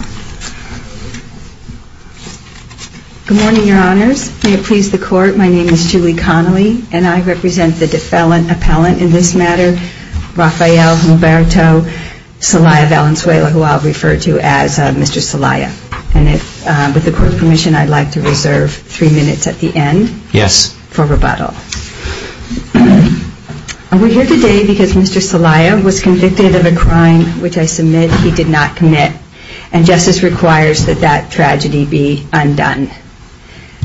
Good morning, your honors. May it please the court, my name is Julie Connolly, and I represent the defelon appellant in this matter, Rafael Mulberto Celaya Valenzuela, who I'll refer to as Mr. Celaya. And if, with the court's permission, I'd like to reserve three minutes at the end. Yes. For rebuttal. I'm here today because Mr. Celaya was convicted of a crime which I submit he did not commit, and justice requires that that tragedy be undone.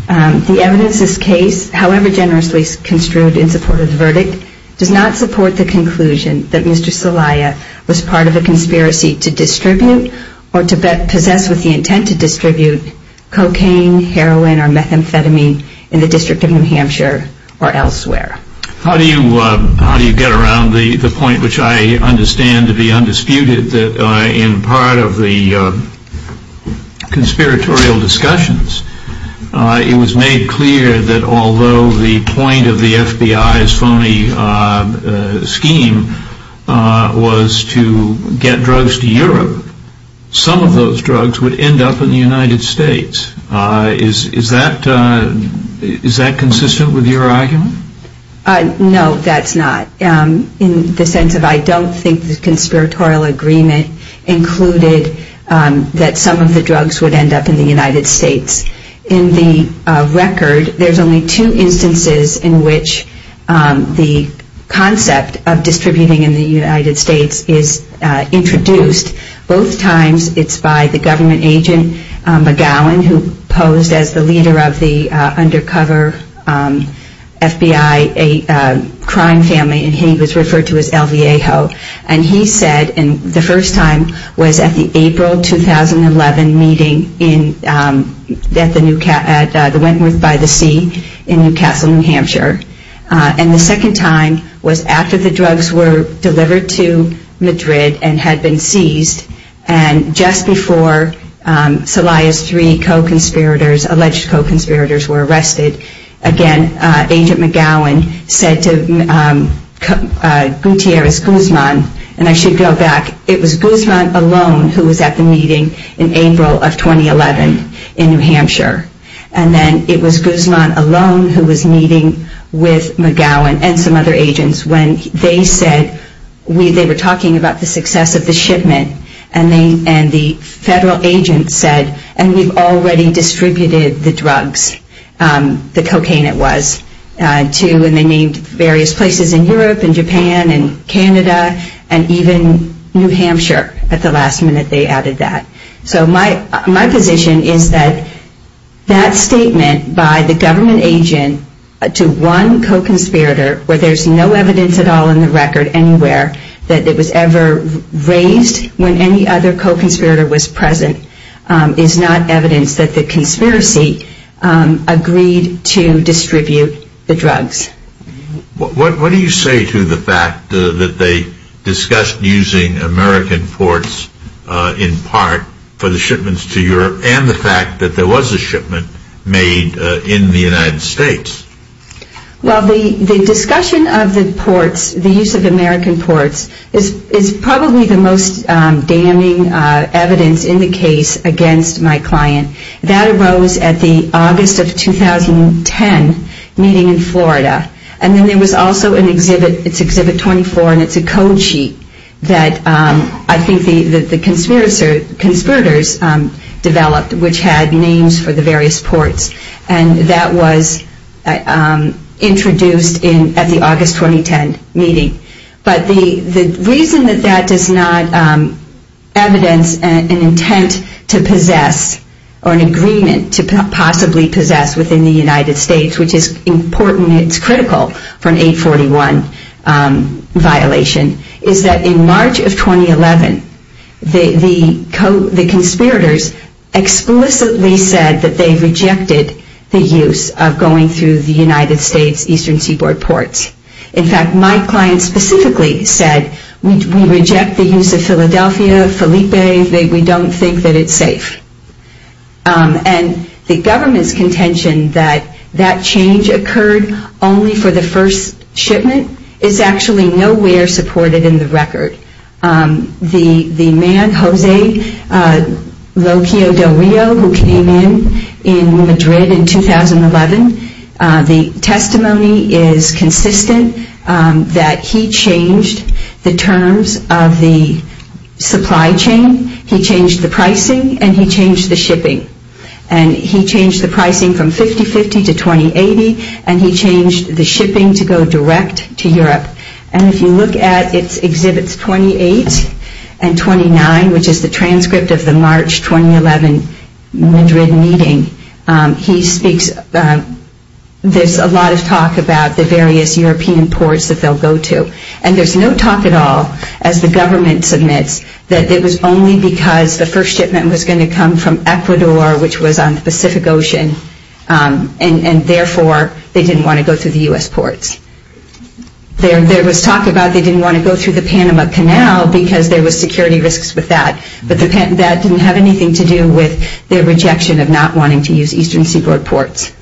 The evidence of this case, however generously construed in support of the verdict, does not support the conclusion that Mr. Celaya was part of a conspiracy to distribute or to possess with the intent to distribute cocaine, heroin, or methamphetamine in the District of New Hampshire or elsewhere. How do you get around the point which I understand to be undisputed that in part of the conspiratorial discussions, it was made clear that although the point of the FBI's phony scheme was to get drugs to Europe, some of those drugs would end up in the United States. Is that consistent with your argument? No, that's not. In the sense of I don't think the conspiratorial agreement included that some of the drugs would end up in the United States. In the record, there's only two instances in which the concept of distributing in the United States is introduced. Both times it's by the government agent McGowan, who posed as the leader of the undercover FBI crime family, and he was referred to as El Viejo. And he said, and the first time was at the April 2011 meeting at the Wentworth-by-the-Sea in Newcastle, New Hampshire. And the second time was after the drugs were delivered to Madrid and had been seized. And just before Celaya's three co-conspirators, alleged co-conspirators, were arrested, again, Agent McGowan said to Gutierrez Guzman, and I should go back, it was Guzman alone who was at the meeting in April of 2011 in New Hampshire. And then it was Guzman alone who was meeting with McGowan and some other agents when they said, they were talking about the success of the shipment, and the federal agent said, and we've already distributed the drugs, the cocaine it was, to, and they named various places in Europe and Japan and Canada and even New Hampshire at the last minute they added that. So my position is that that statement by the government agent to one co-conspirator, where there's no evidence at all in the record anywhere that it was ever raised when any other co-conspirator was present, is not evidence that the conspiracy agreed to distribute the drugs. What do you say to the fact that they discussed using American ports in part for the shipments to Europe and the fact that there was a shipment made in the United States? Well, the discussion of the ports, the use of American ports, is probably the most damning evidence in the case against my client. That arose at the August of 2010 meeting in Florida. And then there was also an exhibit, it's exhibit 24, and it's a code sheet that I think the government agent developed, which had names for the various ports. And that was introduced at the August 2010 meeting. But the reason that that does not evidence an intent to possess or an agreement to possibly possess within the United States, which is important, it's critical for an 841 violation, is that in March of 2011, the conspirators explicitly said that they rejected the use of going through the United States Eastern Seaboard ports. In fact, my client specifically said, we reject the use of Philadelphia, Felipe, we don't think that it's safe. And the government's contention that that change occurred only for the first shipment is actually nowhere supported in the record. The man, Jose Locio del Rio, who came in, in Madrid in 2011, the testimony is consistent that he changed the terms of the supply chain, he changed the pricing, and he changed the shipping. And he changed the pricing from to Europe. And if you look at its exhibits 28 and 29, which is the transcript of the March 2011 Madrid meeting, he speaks, there's a lot of talk about the various European ports that they'll go to. And there's no talk at all, as the government submits, that it was only because the first shipment was going to come from Ecuador, which was on the Pacific Ocean, and therefore they didn't want to go through the U.S. ports. There was talk about they didn't want to go through the Panama Canal because there was security risks with that. But that didn't have anything to do with their rejection of not wanting to use Eastern Seaboard ports.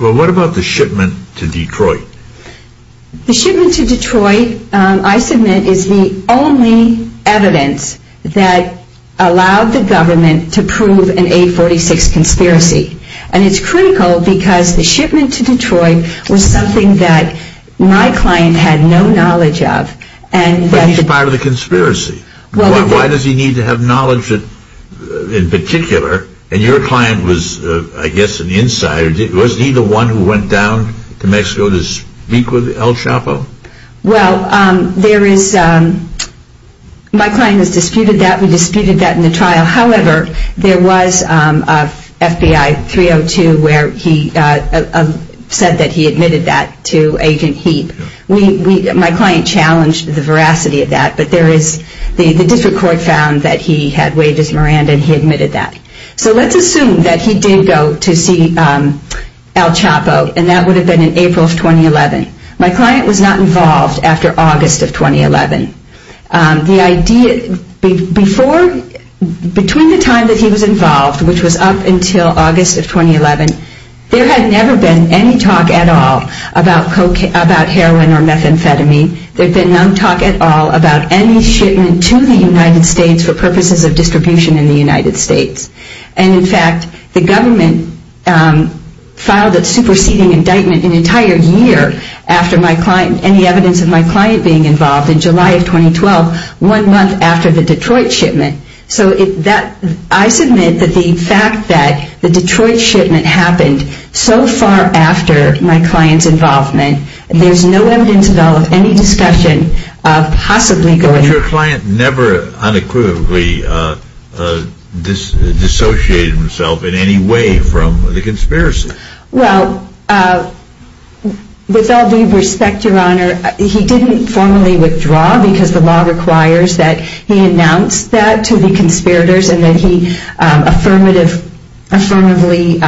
Well, what about the shipment to Detroit? The shipment to Detroit, I submit, is the only evidence that allowed the government to prove an A46 conspiracy. And it's critical because the shipment to Detroit was something that my client had no knowledge of. But he's part of the conspiracy. Why does he need to have knowledge in particular? And your client was, I guess, an insider. Wasn't he the one who went down to Mexico to speak with El Chapo? Well, there is, my client has disputed that. We disputed that in the trial. However, there was a FBI 302 where he said that he admitted that to Agent Heap. My client challenged the veracity of that. But there is, the district court found that he had wages, Miranda, and he admitted that. So let's assume that he did go to see El Chapo, and that would have been in April of 2011. My client was not involved after August of 2011. The idea, before, between the time that he was involved, which was up until August of 2011, there had never been any talk at all about heroin or methamphetamine. There had been no talk at all about any shipment to the United States for purposes of distribution in the United States. And in fact, the government filed a superseding indictment an entire year after my client, and the evidence of my client being involved in July of 2012, one month after the Detroit shipment. So I submit that the fact that the Detroit shipment happened so far after my client's involvement, there is no evidence at all of any discussion of possibly going to the United States. And my client never unequivocally dissociated himself in any way from the conspiracy. Well, with all due respect, Your Honor, he didn't formally withdraw because the law requires that he announce that to the conspirators, and that he affirmatively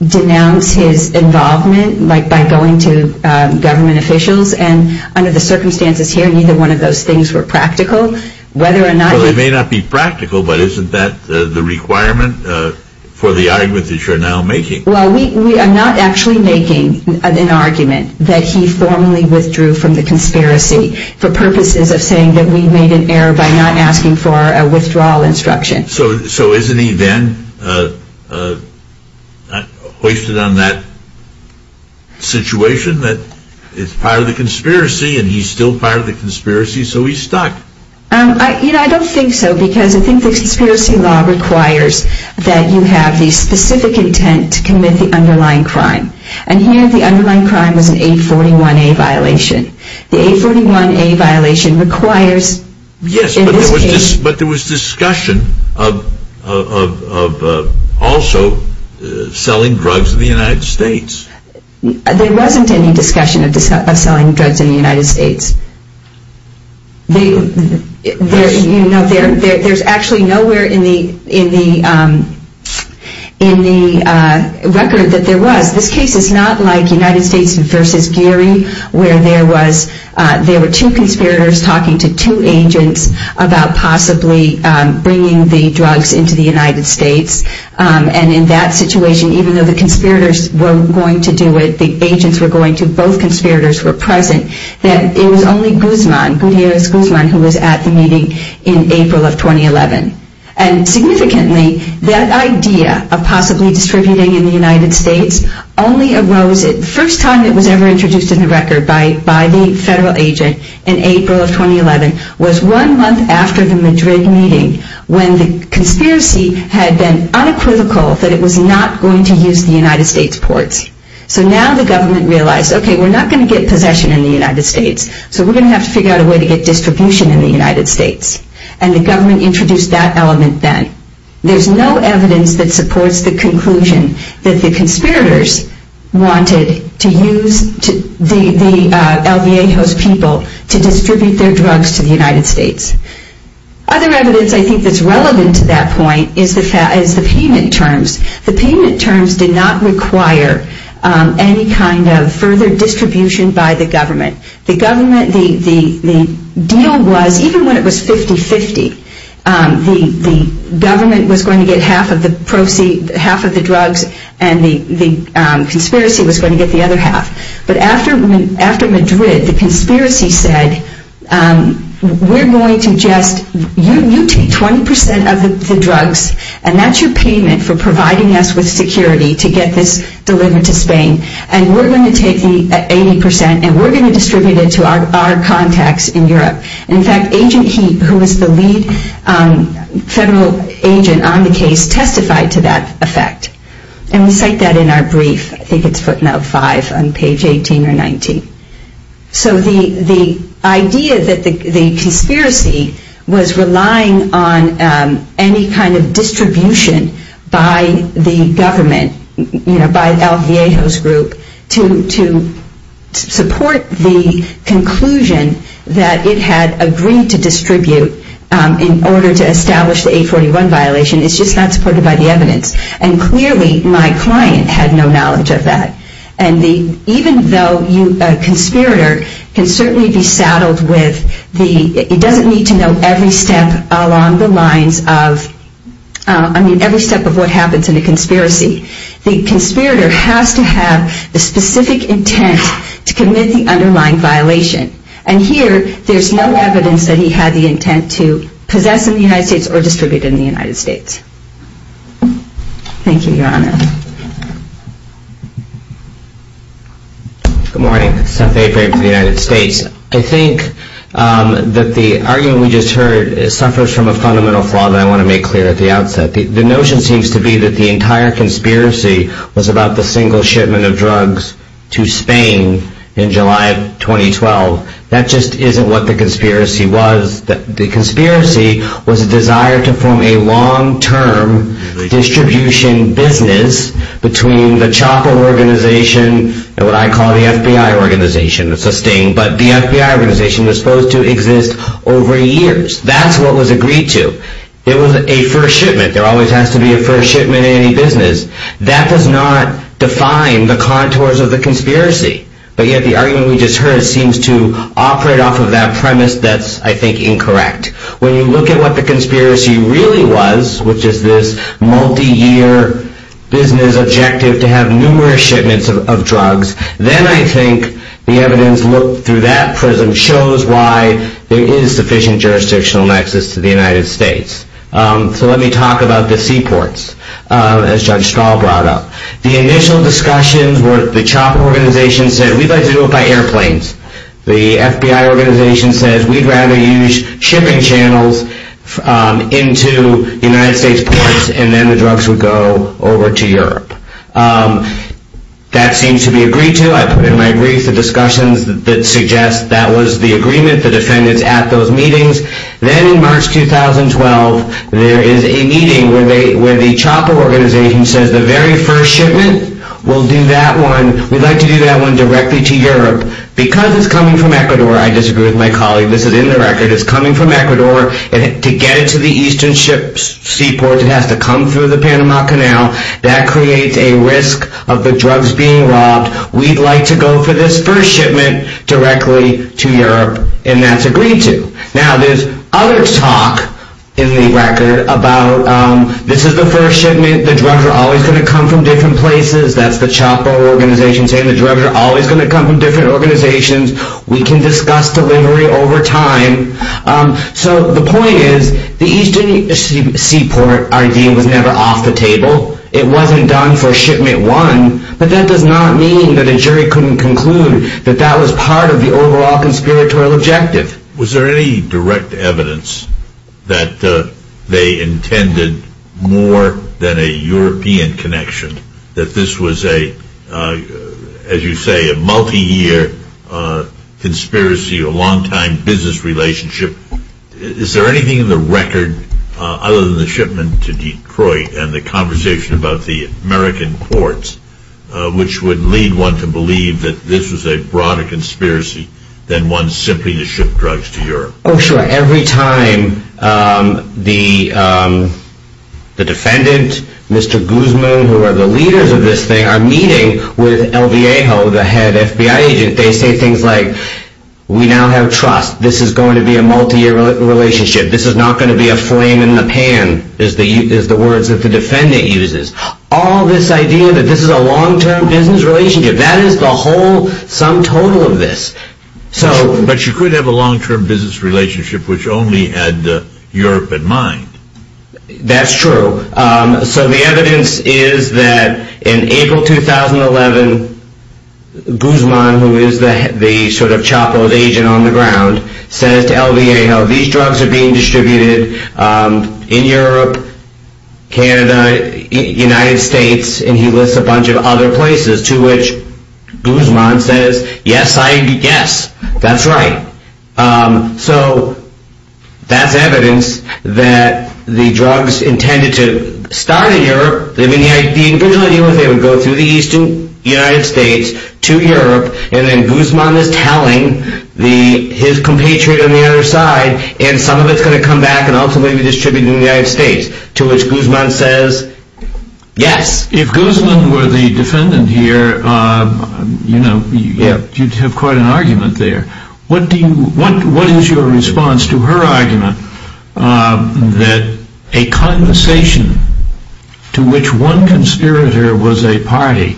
denounced his involvement by going to government officials. And under the circumstances here, neither one of those things were practical. Whether or not he... Well, they may not be practical, but isn't that the requirement for the argument that you're now making? Well, we are not actually making an argument that he formally withdrew from the conspiracy for purposes of saying that we made an error by not asking for a withdrawal instruction. So isn't he then hoisted on that situation that is part of the conspiracy, and he's still part of the conspiracy, so he's stuck? I don't think so, because I think the conspiracy law requires that you have the specific intent to commit the underlying crime. And here, the underlying crime is an 841A violation. The 841A violation requires... Yes, but there was discussion of also selling drugs in the United States. There wasn't any discussion of selling drugs in the United States. There's actually nowhere in the record that there was. This case is not like United States versus Gary, where there were two conspirators talking to two agents about possibly bringing the drugs into the United States. And in that situation, even though the conspirators were going to do it, the agents were going to, both conspirators were present, that it was only Guzman, Gutierrez Guzman, who was at the meeting in April of 2011. And significantly, that idea of possibly distributing in the United States only arose... the first time it was ever introduced in the record by the federal agent in April of 2011 was one month after the Madrid meeting, when the conspiracy had been unequivocal that it was not going to use the United States ports. So now the government realized, okay, we're not going to get possession in the United States, so we're going to have to figure out a way to get distribution in the United States. And the government introduced that element then. There's no evidence that supports the conclusion that the conspirators wanted to use the LVA host people to distribute their drugs to the United States. Other evidence, I think, that's relevant to that point is the payment terms. The payment terms did not require any kind of further distribution by the government. The government, the deal was, even when it was 50-50, the government was going to get half of the proceeds, half of the drugs, and the conspiracy was going to get the other half. But after Madrid, the conspiracy said, we're going to just... you take 20% of the drugs, and that's your payment for providing us with security to get this delivered to Spain, and we're going to take the 80%, and we're going to distribute it to our contacts in Europe. In fact, Agent Heap, who was the lead federal agent on the case, testified to that effect. And we cite that in our brief. I think it's footnote 5 on page 18 or 19. So the idea that the conspiracy was relying on any kind of distribution by the government, you know, by El Viejo's group, to support the conclusion that it had agreed to distribute in order to establish the 841 violation, it's just not supported by the evidence. And clearly, my client had no knowledge of that. And even though a conspirator can certainly be saddled with the... he doesn't need to know every step along the lines of... I mean, every step of what happens in a conspiracy. The conspirator has to have the specific intent to commit the underlying violation. And here, there's no evidence that he had the intent to possess in the United States or distribute in the United States. Thank you, Your Honor. Good morning. Seth Avery for the United States. I think that the argument we just heard suffers from a fundamental flaw that I want to make clear at the outset. The notion seems to be that the entire conspiracy was about the single shipment of drugs to Spain in July of 2012. That just isn't what the conspiracy was. The conspiracy was a desire to form a long-term distribution business between the chopper organization and what I call the FBI organization. It's a sting, but the FBI organization was supposed to exist over years. That's what was agreed to. It was a first shipment. There always has to be a first shipment in any business. That does not define the contours of the conspiracy. But yet, the argument we just heard seems to operate off of that premise that's, I think, incorrect. When you look at what the conspiracy really was, which is this multi-year business objective to have numerous shipments of drugs, then I think the evidence looked through that prism shows why there is sufficient jurisdictional access to the United States. So let me talk about the seaports, as Judge Stahl brought up. The initial discussions were the chopper organization said, we'd like to do it by airplanes. The FBI organization said, we'd rather use shipping channels into the United States ports, and then the drugs would go over to Europe. That seems to be agreed to. I put in my brief the discussions that suggest that was the agreement, the defendants at those meetings. Then in March 2012, there is a meeting where the chopper organization says, the very first shipment, we'll do that one. We'd like to do that one directly to Europe. Because it's coming from Ecuador, I disagree with my colleague. This is in the record. It's coming from Ecuador, and to get it to the eastern seaport, it has to come through the Panama Canal. That creates a risk of the drugs being robbed. We'd like to go for this first shipment directly to Europe, and that's agreed to. Now, there's other talk in the record about, this is the first shipment, the drugs are always going to come from different places. That's the chopper organization saying, the drugs are always going to come from different organizations. We can discuss delivery over time. So the point is, the eastern seaport idea was never off the table. It wasn't done for shipment one, but that does not mean that a jury couldn't conclude that that was part of the overall conspiratorial objective. Was there any direct evidence that they intended more than a European connection, that this was a, as you say, a multi-year conspiracy, a long-time business relationship? Is there anything in the record, other than the shipment to Detroit, and the conversation about the American courts, which would lead one to believe that this was a broader conspiracy than one simply to ship drugs to Europe? Oh, sure. Every time the defendant, Mr. Guzman, who are the leaders of this thing, are meeting with El Viejo, the head FBI agent, they say things like, we now have trust. This is going to be a multi-year relationship. This is not going to be a flame in the pan, is the words that the defendant uses. All this idea that this is a whole sum total of this. But you could have a long-term business relationship which only had Europe in mind. That's true. So the evidence is that in April 2011, Guzman, who is the sort of chapeaued agent on the ground, says to El Viejo, these drugs are being distributed in Europe, Canada, United States, and he lists a bunch of other places, to which Guzman says, yes, I guess. That's right. So that's evidence that the drugs intended to start in Europe, they would go through the eastern United States to Europe, and then Guzman is telling his compatriot on the other side, and some of it's going to come back and ultimately be distributed in the United States. To which Guzman says, yes. If Guzman were the defendant here, you'd have quite an argument there. What is your response to her argument that a conversation to which one conspirator was a party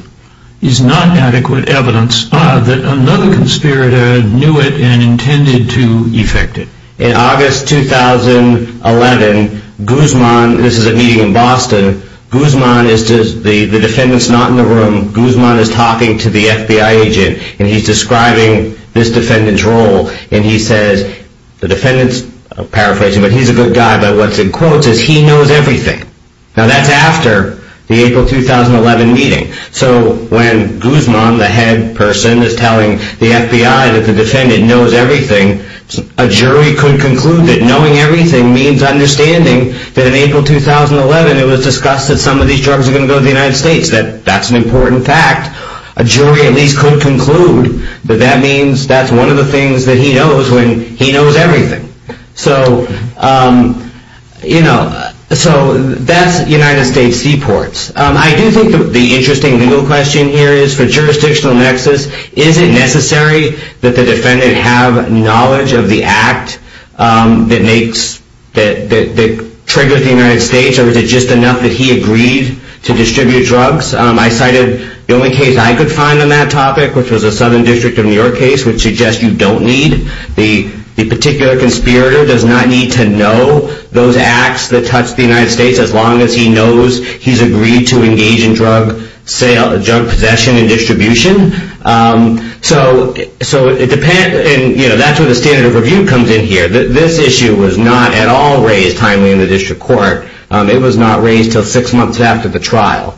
is not adequate evidence that another conspirator knew it and intended to effect it? In August 2011, Guzman, this is a meeting in Boston, Guzman, the defendant's not in the room, Guzman is talking to the FBI agent and he's describing this defendant's role and he says, the defendant's paraphrasing, but he's a good guy, but what's in quotes is he knows everything. Now that's after the April 2011 meeting. So when Guzman, the head person, is telling the FBI that the defendant knows everything, a jury could conclude that knowing everything means understanding that in April 2011 it was discussed that some of these drugs are going to go to the United States, that that's an important fact. A jury at least could conclude that that means that's one of the things that he knows when he knows everything. So that's United States seaports. I do think the interesting legal question here is for jurisdictional nexus, is it necessary that the defendant have knowledge of the act that triggers the United States or is it just enough that he agreed to distribute drugs? I cited the only case I could find on that topic, which was the Southern District of New York case, which suggests you don't need, the particular conspirator does not need to know those acts that touch the United States as long as he knows he's agreed to engage in drug possession and distribution. So that's where the standard of review comes in here. This issue was not at all raised timely in the district court. It was not raised until six months after the trial.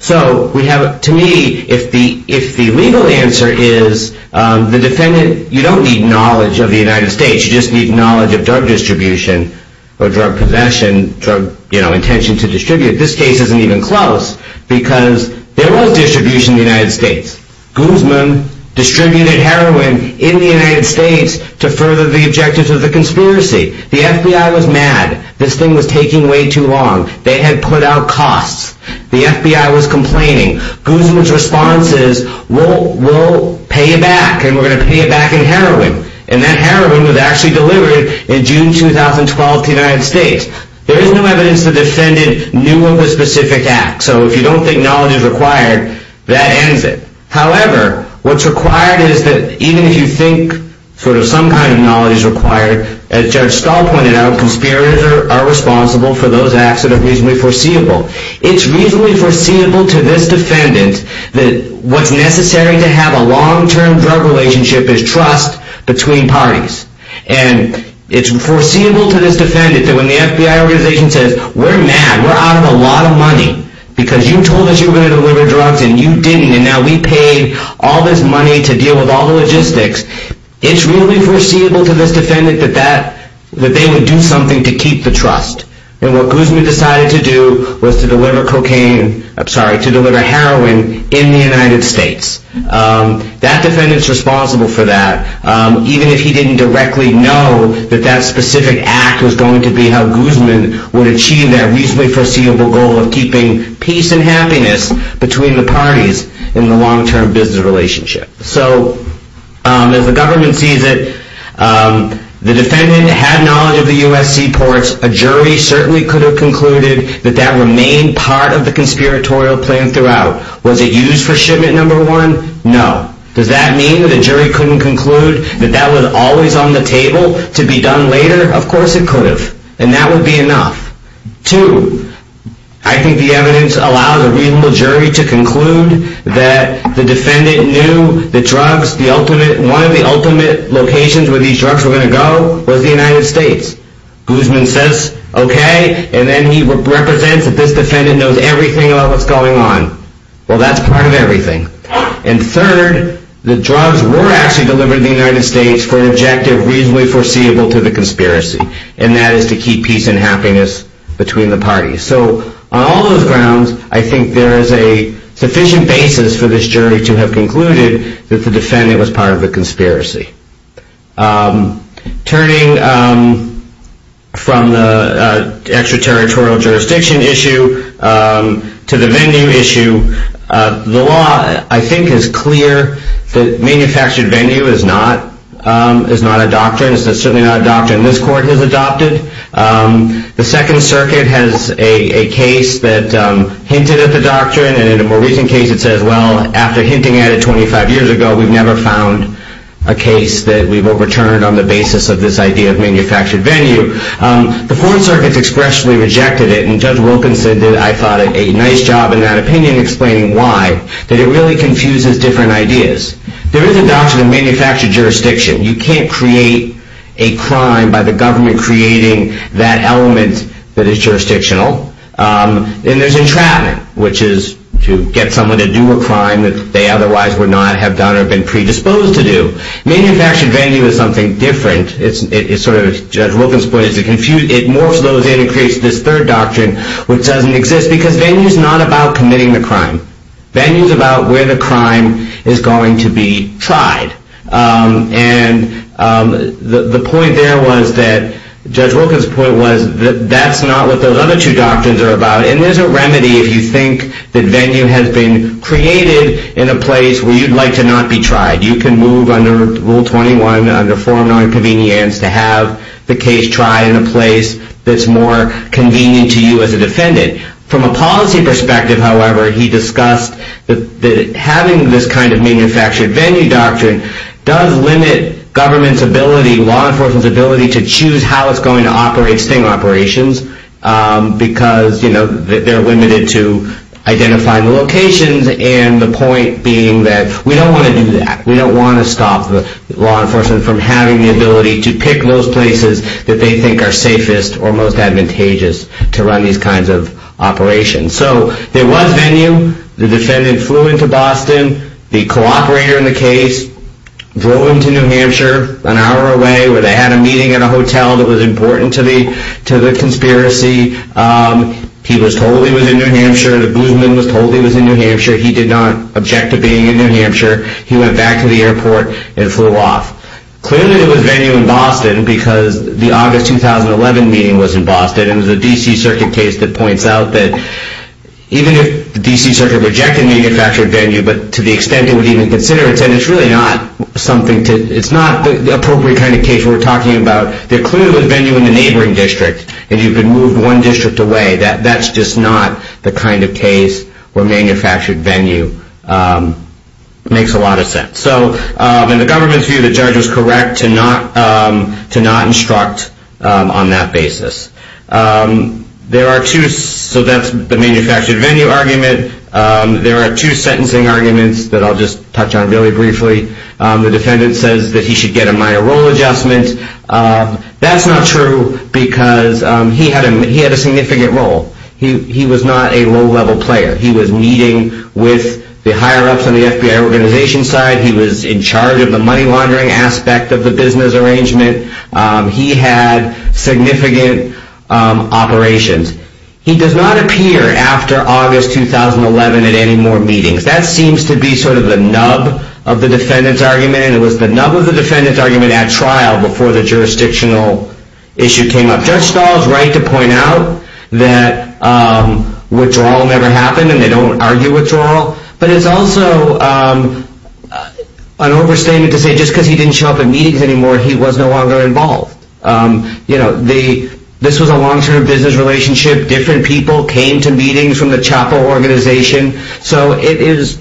So to me, if the legal answer is the defendant, you don't need knowledge of the United States, you just need knowledge of drug distribution or drug possession, drug intention to distribute, this case isn't even close because there was distribution in the United States. Guzman distributed heroin in the United States to further the objectives of the conspiracy. The FBI was mad. This thing was taking way too long. They had put out costs. The FBI was complaining. Guzman's response is, we'll pay you back and we're going to pay you back in heroin. And that heroin was actually delivered in June 2012 to the United States. There is no evidence the defendant knew of a specific act. So if you don't think knowledge is required, that ends it. However, what's required is that even if you think sort of some kind of knowledge is required, as Judge Stahl pointed out, conspirators are responsible for those acts that are reasonably foreseeable. It's reasonably foreseeable to this defendant that what's necessary to have a long-term drug relationship is trust between parties. And it's foreseeable to this defendant that when the FBI organization says, we're mad. We're out of a lot of money because you told us you were going to deliver drugs and you didn't. And now we paid all this money to deal with all the logistics. It's really foreseeable to this defendant that they would do something to keep the trust. And what Guzman decided to do was to deliver cocaine, I'm sorry, to deliver heroin in the United States. That defendant's responsible for that, even if he didn't directly know that that specific act was going to be how Guzman would achieve that reasonably foreseeable goal of keeping peace and happiness between the parties in the long-term business relationship. So as the government sees it, the defendant had knowledge of the USC ports. A jury certainly could have concluded that that remained part of the conspiratorial plan throughout. Was it used for shipment number one? No. Does that mean that a jury couldn't conclude that that was always on the table to be done later? Of course it could have. And that would be enough. Two, I think the evidence allows a reasonable jury to conclude that the defendant knew the drugs, one of the ultimate locations where these drugs were going to go was the United States. Guzman says, okay, and then he represents that this defendant knows everything about what's going on. Well, that's part of everything. And third, the drugs were actually delivered to the United States for an objective reasonably foreseeable to the conspiracy. And that is to keep peace and happiness between the parties. So on all those grounds, I think there is a sufficient basis for this jury to have concluded that the defendant was part of the conspiracy. Turning from the extraterritorial jurisdiction issue to the venue issue, the law, I think, is clear that manufactured venue is not a doctrine. It's certainly not a doctrine this court has adopted. The Second Circuit has a case that hinted at the doctrine. And in a more recent case, it says, well, after hinting at it 25 years ago, we've never found a case that we've overturned on the basis of this idea of manufactured venue. The Fourth Circuit expressly rejected it. And Judge Wilkinson did, I thought, a nice job in that opinion explaining why, that it really confuses different ideas. There is a doctrine in manufactured jurisdiction. You can't create a crime by the government creating that element that is jurisdictional. And there's entrapment, which is to get someone to do a crime that they otherwise would not have done or been predisposed to do. Manufactured venue is something different. As Judge Wilkinson pointed out, it morphs those in and creates this third doctrine, which doesn't exist, because venue is not about committing the crime. Venue is about where the crime is going to be tried. And the point there was that Judge Wilkinson's point was that that's not what those other two doctrines are about. And there's a remedy if you think that venue has been created in a place where you'd like to not be tried. You can move under Rule 21, under form nonconvenience, to have the case tried in a place that's more convenient to you as a defendant. From a policy perspective, however, he discussed that having this kind of manufactured venue doctrine does limit government's ability, law enforcement's ability, to choose how it's going to operate sting operations, because they're limited to identifying the locations and the point being that we don't want to do that. We don't want to stop law enforcement from having the ability to pick those places that they think are safest or most advantageous to run these kinds of operations. So there was venue. The defendant flew into Boston. The cooperator in the case drove him to New Hampshire an hour away, where they had a meeting at a hotel that was important to the conspiracy. He was told he was in New Hampshire. The bluesman was told he was in New Hampshire. He did not object to being in New Hampshire. He went back to the airport and flew off. Clearly, it was venue in Boston, because the August 2011 meeting was in Boston. It was a D.C. Circuit case that points out that even if the D.C. Circuit rejected manufactured venue, but to the extent it would even consider it, then it's really not the appropriate kind of case we're talking about. There clearly was venue in the neighboring district, and you could move one district away. That's just not the kind of case where manufactured venue makes a lot of sense. So in the government's view, the judge was correct to not instruct on that basis. So that's the manufactured venue argument. There are two sentencing arguments that I'll just touch on really briefly. The defendant says that he should get a minor role adjustment. That's not true, because he had a significant role. He was not a low-level player. He was meeting with the higher-ups on the FBI organization side. He was in charge of the money laundering aspect of the business arrangement. He had significant operations. He does not appear after August 2011 at any more meetings. That seems to be sort of the nub of the defendant's argument, and it was the nub of the defendant's argument at trial before the jurisdictional issue came up. Judge Stahl is right to point out that withdrawal never happened, and they don't argue withdrawal. But it's also an overstatement to say just because he didn't show up at meetings anymore, he was no longer involved. You know, this was a long-term business relationship. Different people came to meetings from the chapel organization. So is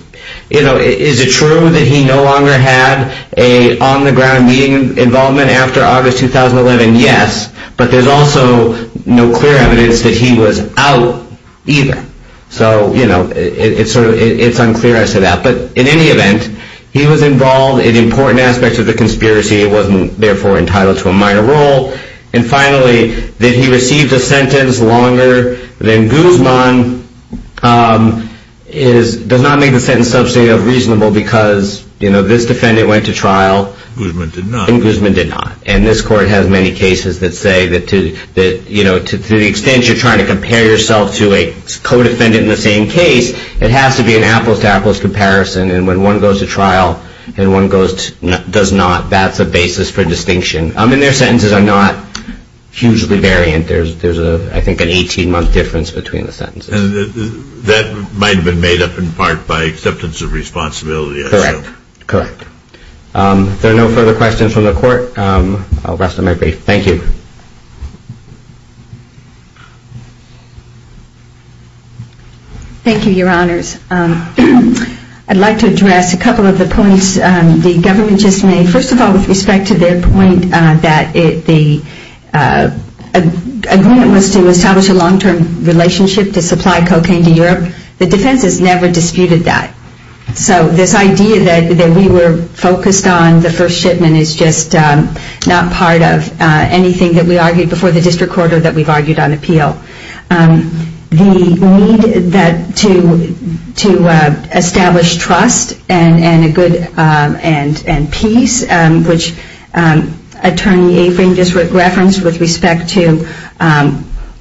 it true that he no longer had an on-the-ground meeting involvement after August 2011? Yes, but there's also no clear evidence that he was out either. So, you know, it's unclear as to that. But in any event, he was involved in important aspects of the conspiracy. He wasn't, therefore, entitled to a minor role. And finally, did he receive the sentence longer than Guzman? It does not make the sentence substantive reasonable because, you know, this defendant went to trial. Guzman did not. And this court has many cases that say that, you know, to the extent you're trying to compare yourself to a co-defendant in the same case, it has to be an apples-to-apples comparison. And when one goes to trial and one does not, that's a basis for distinction. I mean, their sentences are not hugely variant. There's, I think, an 18-month difference between the sentences. And that might have been made up in part by acceptance of responsibility, I assume. Correct, correct. If there are no further questions from the court, I'll rest my brief. Thank you. Thank you, Your Honors. I'd like to address a couple of the points the government just made. First of all, with respect to their point that the agreement was to establish a long-term relationship to supply cocaine to Europe, the defense has never disputed that. So this idea that we were focused on the first shipment is just not part of anything that we argued before the district court or that we've argued on appeal. The need to establish trust and peace, which Attorney Avery just referenced with respect to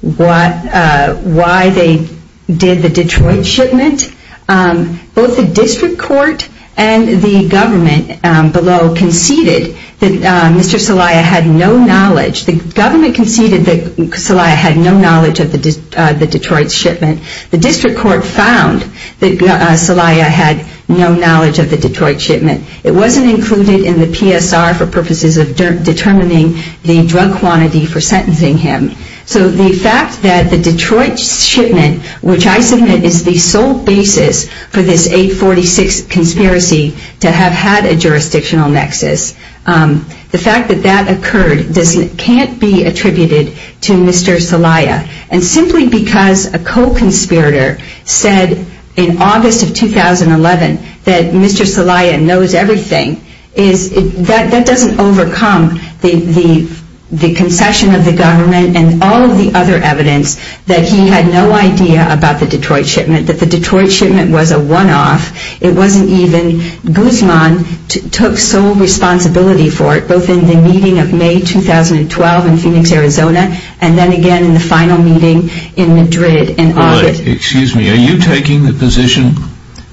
why they did the Detroit shipment, both the district court and the government below conceded that Mr. Celaya had no knowledge. The government conceded that Celaya had no knowledge of the Detroit shipment. The district court found that Celaya had no knowledge of the Detroit shipment. It wasn't included in the PSR for purposes of determining the drug quantity for sentencing him. So the fact that the Detroit shipment, which I submit is the sole basis for this 846 conspiracy to have had a jurisdictional nexus, the fact that that occurred can't be attributed to Mr. Celaya. And simply because a co-conspirator said in August of 2011 that Mr. Celaya knows everything, that doesn't overcome the concession of the government and all of the other evidence that he had no idea about the Detroit shipment, that the Detroit shipment was a one-off. It wasn't even Guzman took sole responsibility for it, both in the meeting of May 2012 in Phoenix, Arizona, and then again in the final meeting in Madrid in August. Excuse me, are you taking the position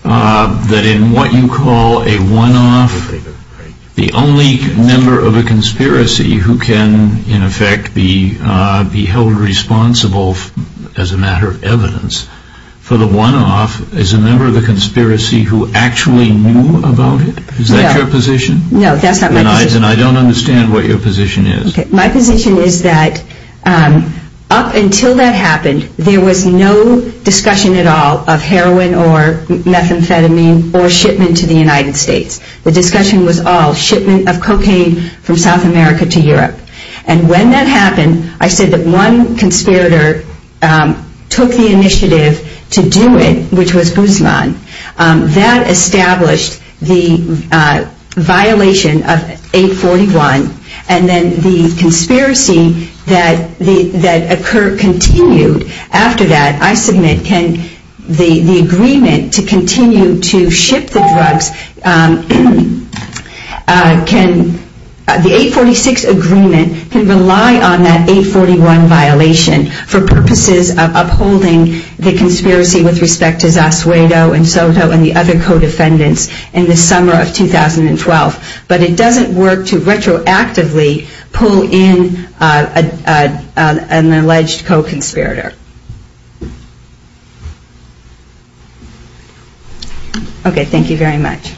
that in what you call a one-off, the only member of a conspiracy who can in effect be held responsible as a matter of evidence for the one-off is a member of the conspiracy who actually knew about it? Is that your position? No, that's not my position. And I don't understand what your position is. My position is that up until that happened, there was no discussion at all of heroin or methamphetamine or shipment to the United States. The discussion was all shipment of cocaine from South America to Europe. And when that happened, I said that one conspirator took the initiative to do it, which was Guzman. That established the violation of 841. And then the conspiracy that occurred continued after that, I submit, the agreement to continue to ship the drugs, the 846 agreement can rely on that 841 violation for purposes of upholding the conspiracy with respect to Zasuedo and Soto and the other co-defendants in the summer of 2012. But it doesn't work to retroactively pull in an alleged co-conspirator. Okay, thank you very much.